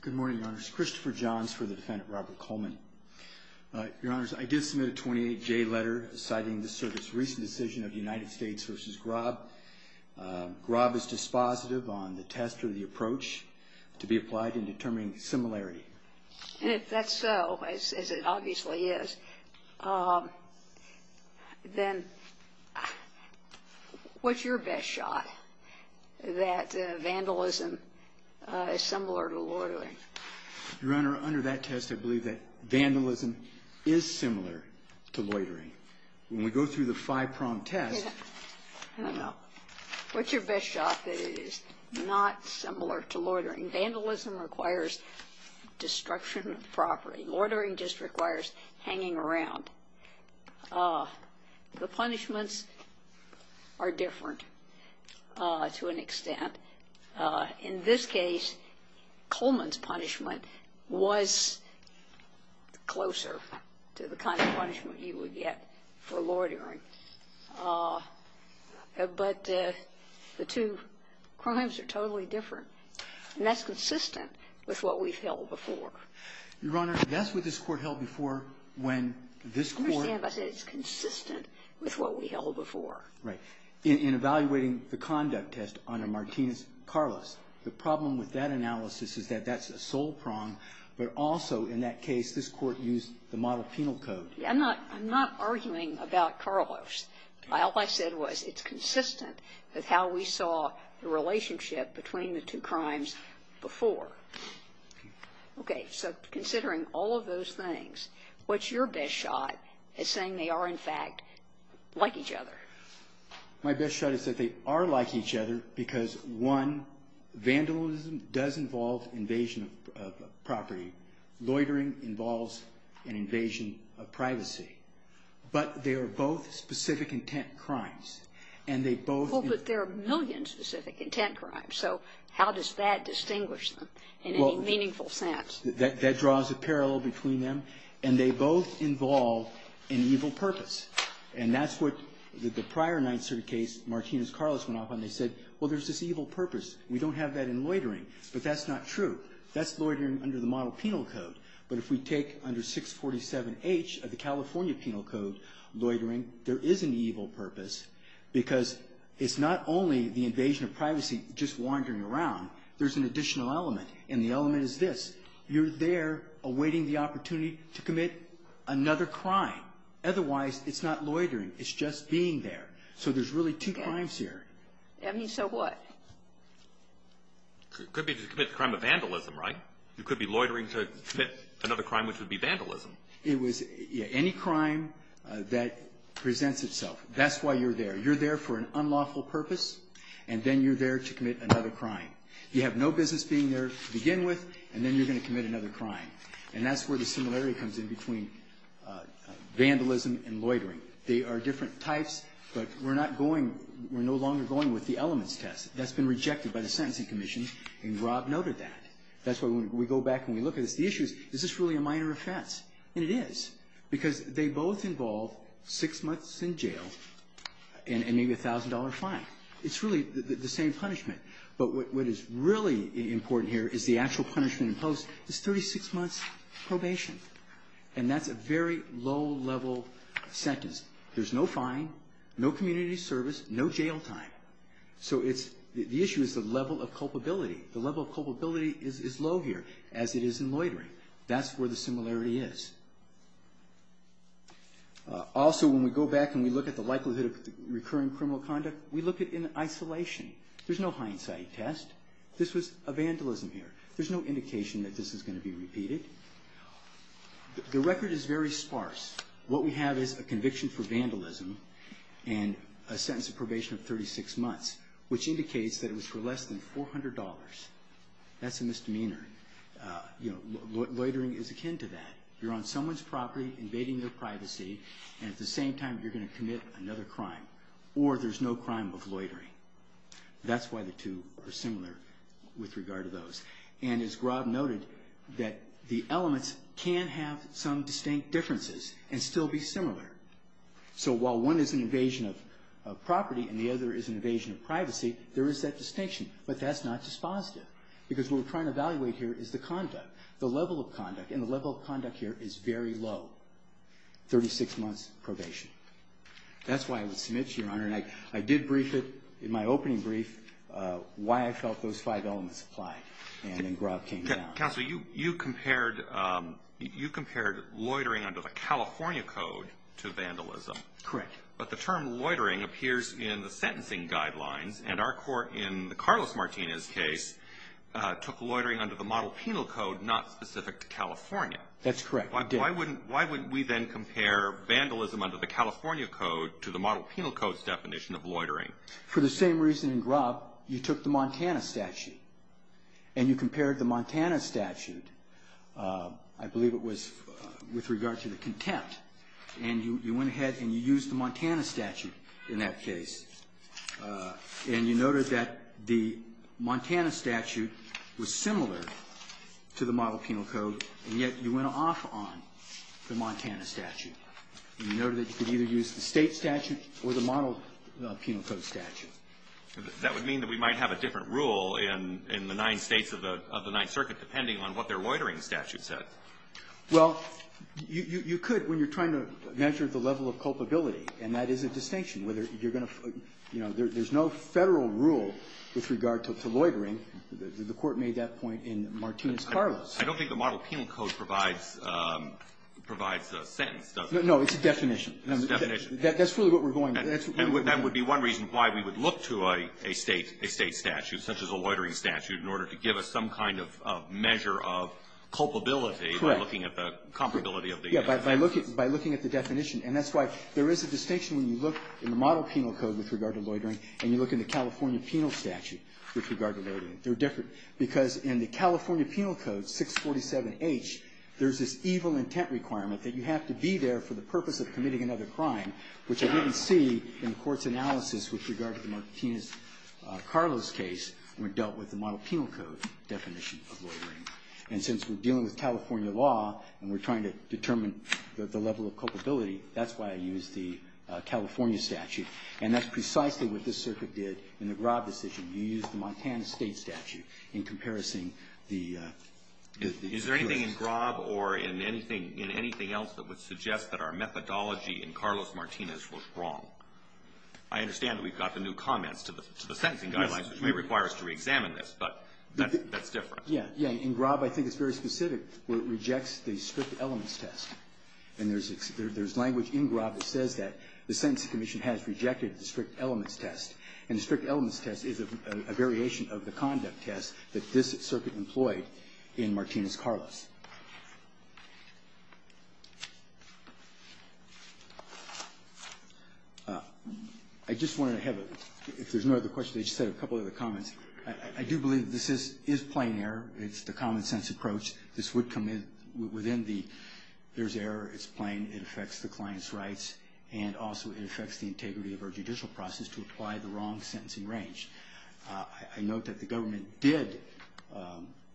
Good morning, Your Honors. Christopher Johns for the defendant, Robert Coleman. Your Honors, I did submit a 28-J letter citing the Service's recent decision of United States v. Grob. Grob is dispositive on the test or the approach to be applied in determining similarity. And if that's so, as it obviously is, then what's your best shot that vandalism is similar to loitering? Your Honor, under that test, I believe that vandalism is similar to loitering. When we go through the five-prong test — I don't know. What's your best shot that it is not similar to loitering? Vandalism requires destruction of property. Loitering just requires hanging around. The punishments are different to an extent. In this case, Coleman's punishment was closer to the kind of punishment you would get for loitering. But the two crimes are totally different. And that's consistent with what we've held before. Your Honor, that's what this Court held before when this Court — I understand, but it's consistent with what we held before. Right. In evaluating the conduct test under Martinez-Carlos, the problem with that analysis is that that's a sole prong. But also, in that case, this Court used the model penal code. I'm not arguing about Carlos. All I said was it's consistent with how we saw the relationship between the two crimes before. Okay. So considering all of those things, what's your best shot at saying they are, in fact, like each other? My best shot is that they are like each other because, one, vandalism does involve invasion of property. Loitering involves an invasion of privacy. But they are both specific intent crimes. And they both — Well, but there are millions of specific intent crimes. So how does that distinguish them in any meaningful sense? That draws a parallel between them. And they both involve an evil purpose. And that's what the prior Ninth Circuit case Martinez-Carlos went off on. They said, well, there's this evil purpose. We don't have that in loitering. But that's not true. That's loitering under the model penal code. But if we take under 647H of the California penal code loitering, there is an evil purpose. Because it's not only the invasion of privacy just wandering around. There's an additional element. And the element is this. You're there awaiting the opportunity to commit another crime. Otherwise, it's not loitering. It's just being there. So there's really two crimes here. I mean, so what? It could be to commit the crime of vandalism, right? It could be loitering to commit another crime, which would be vandalism. It was any crime that presents itself. That's why you're there. You're there for an unlawful purpose. And then you're there to commit another crime. You have no business being there to begin with. And then you're going to commit another crime. And that's where the similarity comes in between vandalism and loitering. They are different types. But we're not going we're no longer going with the elements test. That's been rejected by the Sentencing Commission. And Rob noted that. That's why when we go back and we look at this, the issue is, is this really a minor offense? And it is. Because they both involve six months in jail and maybe a $1,000 fine. It's really the same punishment. But what is really important here is the actual punishment imposed is 36 months probation. And that's a very low-level sentence. There's no fine, no community service, no jail time. So it's the issue is the level of culpability. The level of culpability is low here, as it is in loitering. That's where the similarity is. Also, when we go back and we look at the likelihood of recurring criminal conduct, we look at in isolation. There's no hindsight test. This was a vandalism here. There's no indication that this is going to be repeated. The record is very sparse. What we have is a conviction for vandalism and a sentence of probation of 36 months, which indicates that it was for less than $400. That's a misdemeanor. Loitering is akin to that. You're on someone's property invading their privacy, and at the same time you're going to commit another crime. Or there's no crime of loitering. That's why the two are similar with regard to those. And as Grob noted, that the elements can have some distinct differences and still be similar. So while one is an invasion of property and the other is an invasion of privacy, there is that distinction, but that's not dispositive, because what we're trying to evaluate here is the conduct, the level of conduct, and the level of conduct here is very low, 36 months probation. That's why I would submit to Your Honor, and I did brief it in my opening brief, why I felt those five elements applied, and then Grob came down. Counsel, you compared loitering under the California Code to vandalism. Correct. But the term loitering appears in the sentencing guidelines, and our court in Carlos Martinez's case took loitering under the model penal code not specific to California. That's correct. Why wouldn't we then compare vandalism under the California Code to the model penal code's definition of loitering? For the same reason in Grob, you took the Montana statute and you compared the Montana statute, I believe it was with regard to the contempt, and you went ahead and you used the Montana statute in that case, and you noted that the Montana statute was similar to the model penal code, and yet you went off on the Montana statute. You noted that you could either use the State statute or the model penal code statute. That would mean that we might have a different rule in the nine States of the Ninth Circuit depending on what their loitering statute said. Well, you could when you're trying to measure the level of culpability, and that is a distinction, whether you're going to, you know, there's no Federal rule with regard to loitering. The Court made that point in Martinez-Carlos. I don't think the model penal code provides a sentence, does it? No. It's a definition. It's a definition. That's really what we're going with. And that would be one reason why we would look to a State statute, such as a loitering statute, in order to give us some kind of measure of culpability by looking at the comparability of the instances. Correct. By looking at the definition. And that's why there is a distinction when you look in the model penal code with regard to loitering and you look in the California penal statute with regard to loitering. They're different. Because in the California penal code, 647H, there's this evil intent requirement that you have to be there for the purpose of committing another crime, which I didn't see in the Court's analysis with regard to the Martinez-Carlos case when dealt with the model penal code definition of loitering. And since we're dealing with California law and we're trying to determine the level of culpability, that's why I used the California statute. And that's precisely what this circuit did in the Grob decision. You used the Montana State statute in comparison the jurors. Is there anything in Grob or in anything else that would suggest that our methodology in Carlos-Martinez was wrong? I understand that we've got the new comments to the sentencing guidelines, which may require us to reexamine this, but that's different. Yeah. In Grob, I think it's very specific where it rejects the strict elements test. And there's language in Grob that says that the Sentencing Commission has rejected the strict elements test. And the strict elements test is a variation of the conduct test that this circuit employed in Martinez-Carlos. I just wanted to have a – if there's no other questions, I just had a couple other comments. I do believe that this is plain error. It's the common-sense approach. This would commit within the – there's error. It's plain. It affects the client's rights. And also, it affects the integrity of our judicial process to apply the wrong sentencing range. I note that the government did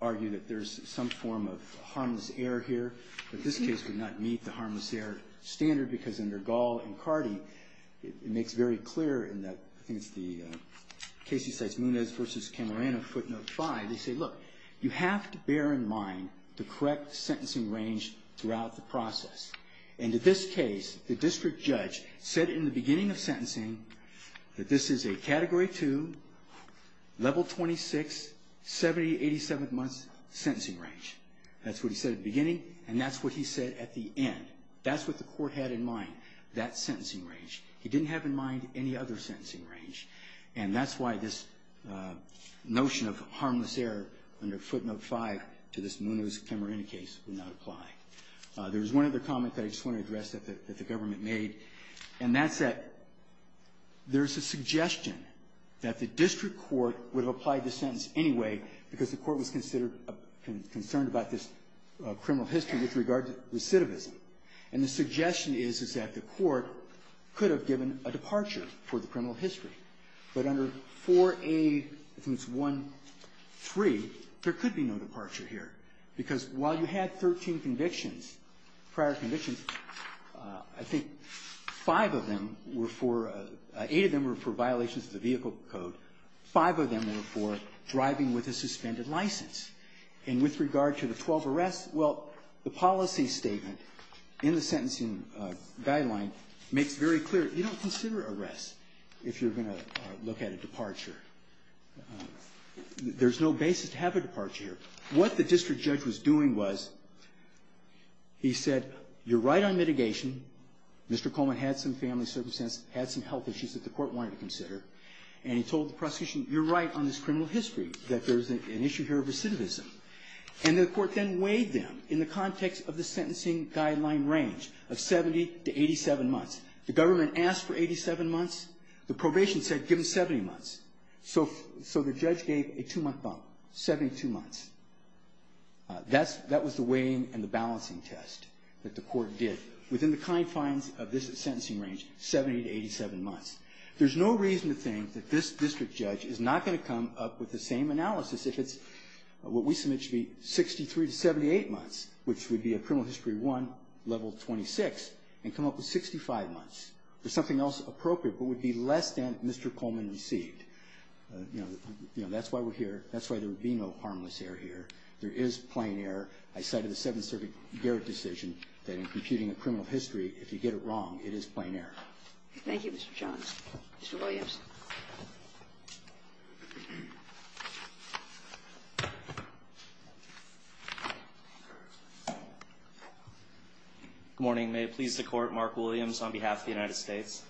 argue that there's some form of harmless error here. But this case would not meet the harmless error standard, because under Gall and Cardi, it makes very clear in the – I think it's the Casey cites Munez v. Camerano footnote 5. They say, look, you have to bear in mind the correct sentencing range throughout the process. And in this case, the district judge said in the beginning of sentencing that this is a Category 2, Level 26, 70-87th month sentencing range. That's what he said at the beginning, and that's what he said at the end. That's what the court had in mind, that sentencing range. He didn't have in mind any other sentencing range. And that's why this notion of harmless error under footnote 5 to this Munez Camerano case would not apply. There's one other comment that I just want to address that the government made, and that's that there's a suggestion that the district court would have applied the sentence anyway because the court was considered – concerned about this criminal history with regard to recidivism. And the suggestion is, is that the court could have given a departure for the criminal history. But under 4A, I think it's 1.3, there could be no departure here, because while you had 13 convictions, prior convictions, I think five of them were for – eight of them were for violations of the vehicle code. Five of them were for driving with a suspended license. And with regard to the 12 arrests, well, the policy statement in the sentencing guideline makes very clear you don't consider arrests if you're going to look at a departure. There's no basis to have a departure here. What the district judge was doing was he said, you're right on mitigation. Mr. Coleman had some family circumstances, had some health issues that the court wanted to consider, and he told the prosecution, you're right on this criminal history, that there's an issue here of recidivism. And the court then weighed them in the context of the sentencing guideline range of 70 to 87 months. The government asked for 87 months. The probation said give them 70 months. So the judge gave a two-month bump, 72 months. That was the weighing and the balancing test that the court did. Within the confines of this sentencing range, 70 to 87 months. There's no reason to think that this district judge is not going to come up with the same analysis if it's what we submit should be 63 to 78 months, which would be a criminal history 1, level 26, and come up with 65 months. There's something else appropriate but would be less than Mr. Coleman received. You know, that's why we're here. That's why there would be no harmless error here. There is plain error. I cited the Seventh Circuit Garrett decision that in computing a criminal history, if you get it wrong, it is plain error. Thank you, Mr. Johns. Mr. Williams. Good morning. May it please the court, Mark Williams on behalf of the United States.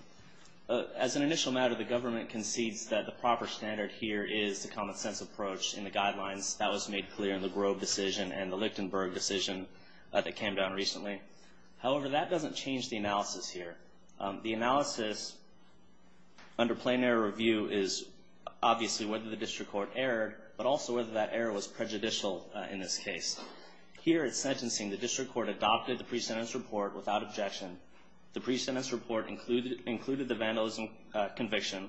As an initial matter, the government concedes that the proper standard here is the common sense approach in the guidelines that was made clear in the Grove decision and the Lichtenberg decision that came down recently. However, that doesn't change the analysis here. The analysis under plain error review is obviously whether the district court erred, but also whether that error was prejudicial in this case. Here at sentencing, the district court adopted the pre-sentence report without objection. The pre-sentence report included the vandalism conviction,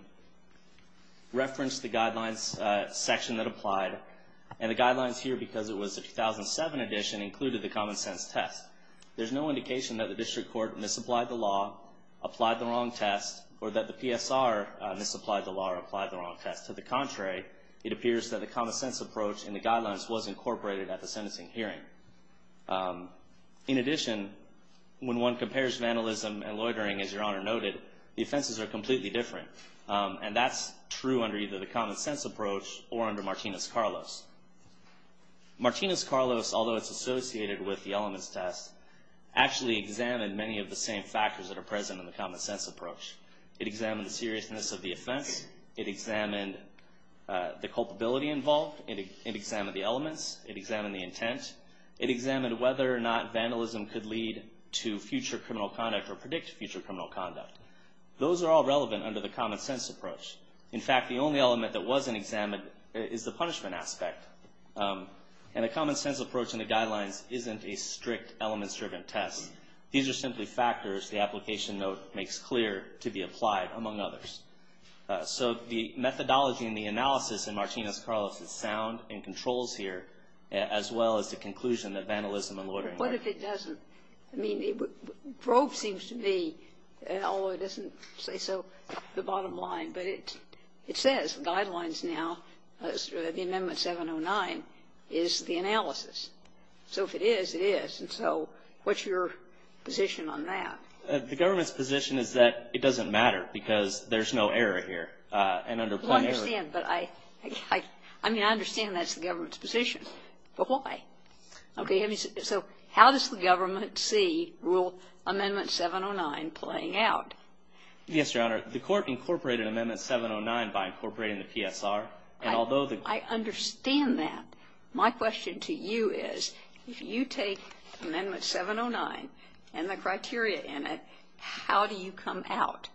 referenced the guidelines section that applied, and the guidelines here, because it was a 2007 edition, included the common sense test. There's no indication that the district court misapplied the law, applied the wrong test, or that the PSR misapplied the law or applied the wrong test. To the contrary, it appears that the common sense approach in the guidelines was incorporated at the sentencing hearing. In addition, when one compares vandalism and loitering, as Your Honor noted, the offenses are completely different, and that's true under either the common sense approach or under Martinez-Carlos. Martinez-Carlos, although it's associated with the elements test, actually examined many of the same factors that are present in the common sense approach. It examined the seriousness of the offense. It examined the culpability involved. It examined the elements. It examined the intent. It examined whether or not vandalism could lead to future criminal conduct or predict future criminal conduct. Those are all relevant under the common sense approach. In fact, the only element that wasn't examined is the punishment aspect, and the common sense approach in the guidelines isn't a strict elements-driven test. These are simply factors the application note makes clear to be applied, among others. So the methodology and the analysis in Martinez-Carlos is sound and controls here, as well as the conclusion that vandalism and loitering were. What if it doesn't? I mean, Grove seems to be, although it doesn't say so, the bottom line. But it says, the guidelines now, the amendment 709, is the analysis. So if it is, it is. And so what's your position on that? The government's position is that it doesn't matter because there's no error here. And under plain error. Well, I understand. But I mean, I understand that's the government's position. But why? Okay. So how does the government see rule amendment 709 playing out? Yes, Your Honor. The Court incorporated amendment 709 by incorporating the PSR. And although the ---- I understand that. My question to you is, if you take amendment 709 and the criteria in it, how do you come out?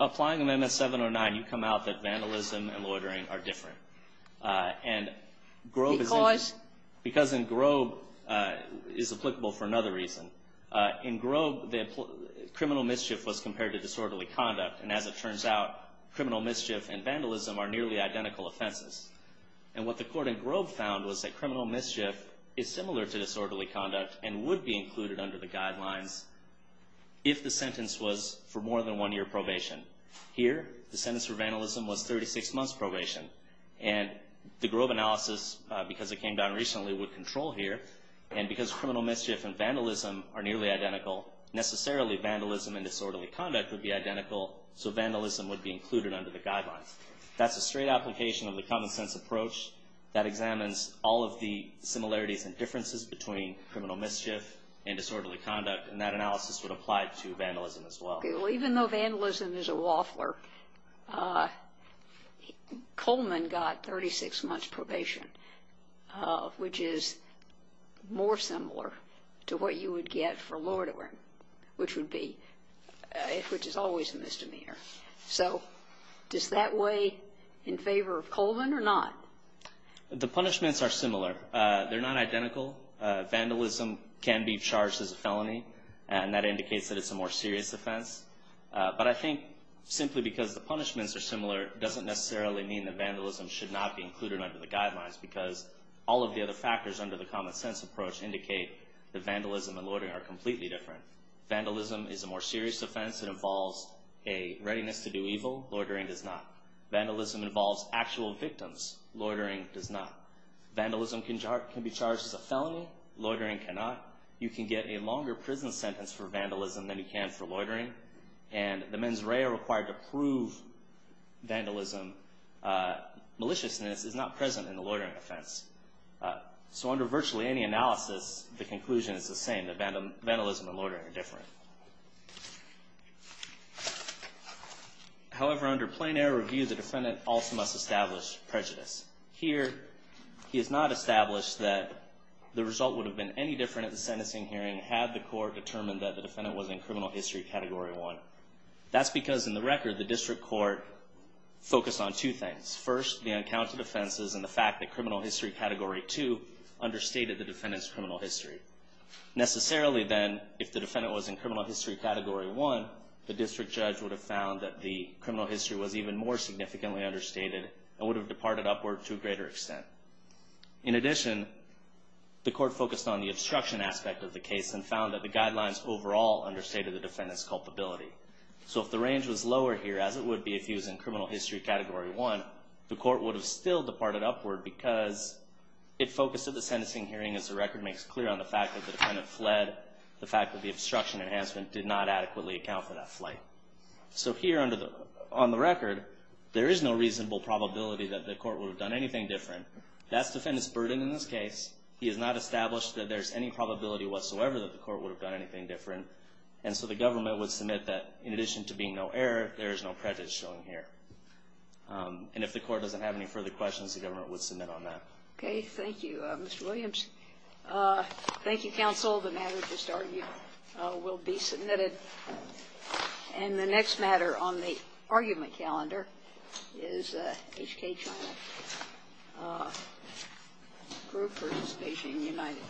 Applying amendment 709, you come out that vandalism and loitering are different. And Grove is in ---- Because? Because in Grove, is applicable for another reason. In Grove, the criminal mischief was compared to disorderly conduct. And as it turns out, criminal mischief and vandalism are nearly identical offenses. And what the Court in Grove found was that criminal mischief is similar to disorderly conduct and would be included under the guidelines if the sentence was for more than one year probation. Here, the sentence for vandalism was 36 months probation. And the Grove analysis, because it came down recently, would control here. And because criminal mischief and vandalism are nearly identical, necessarily vandalism and disorderly conduct would be identical, so vandalism would be included under the guidelines. That's a straight application of the common sense approach that examines all of the similarities and differences between criminal mischief and disorderly conduct. And that analysis would apply to vandalism as well. Okay. Well, even though vandalism is a waffler, Coleman got 36 months probation, which is more similar to what you would get for loitering, which would be ---- which is always a misdemeanor. So does that weigh in favor of Coleman or not? The punishments are similar. They're not identical. Vandalism can be charged as a felony, and that indicates that it's a more serious offense. But I think simply because the punishments are similar doesn't necessarily mean that vandalism should not be included under the guidelines, because all of the other factors under the common sense approach indicate that vandalism and loitering are completely different. Vandalism is a more serious offense. It involves a readiness to do evil. Loitering does not. Vandalism involves actual victims. Loitering does not. Vandalism can be charged as a felony. Loitering cannot. You can get a longer prison sentence for vandalism than you can for loitering. And the mens rea required to prove vandalism maliciousness is not present in the loitering offense. So under virtually any analysis, the conclusion is the same, that vandalism and loitering are different. However, under plain error review, the defendant also must establish prejudice. Here, he has not established that the result would have been any different at the sentencing hearing had the court determined that the defendant was in criminal history category one. That's because in the record, the district court focused on two things. First, the uncounted offenses and the fact that criminal history category two understated the defendant's criminal history. Necessarily then, if the defendant was in criminal history category one, the district judge would have found that the criminal history was even more significantly understated and would have departed upward to a greater extent. In addition, the court focused on the obstruction aspect of the case and found that the guidelines overall understated the defendant's culpability. So if the range was lower here, as it would be if he was in criminal history category one, the court would have still departed upward because it focused at the sentencing hearing as the record makes clear on the fact that the defendant fled, the fact that the obstruction enhancement did not adequately account for that flight. So here on the record, there is no reasonable probability that the court would have done anything different. That's defendant's burden in this case. He has not established that there's any probability whatsoever that the court would have done anything different. And so the government would submit that in addition to being no error, there is no prejudice shown here. And if the court doesn't have any further questions, the government would submit on that. Okay. Thank you, Mr. Williams. Thank you, counsel. The matter just argued will be submitted. And the next matter on the argument calendar is HK China Group versus Beijing United.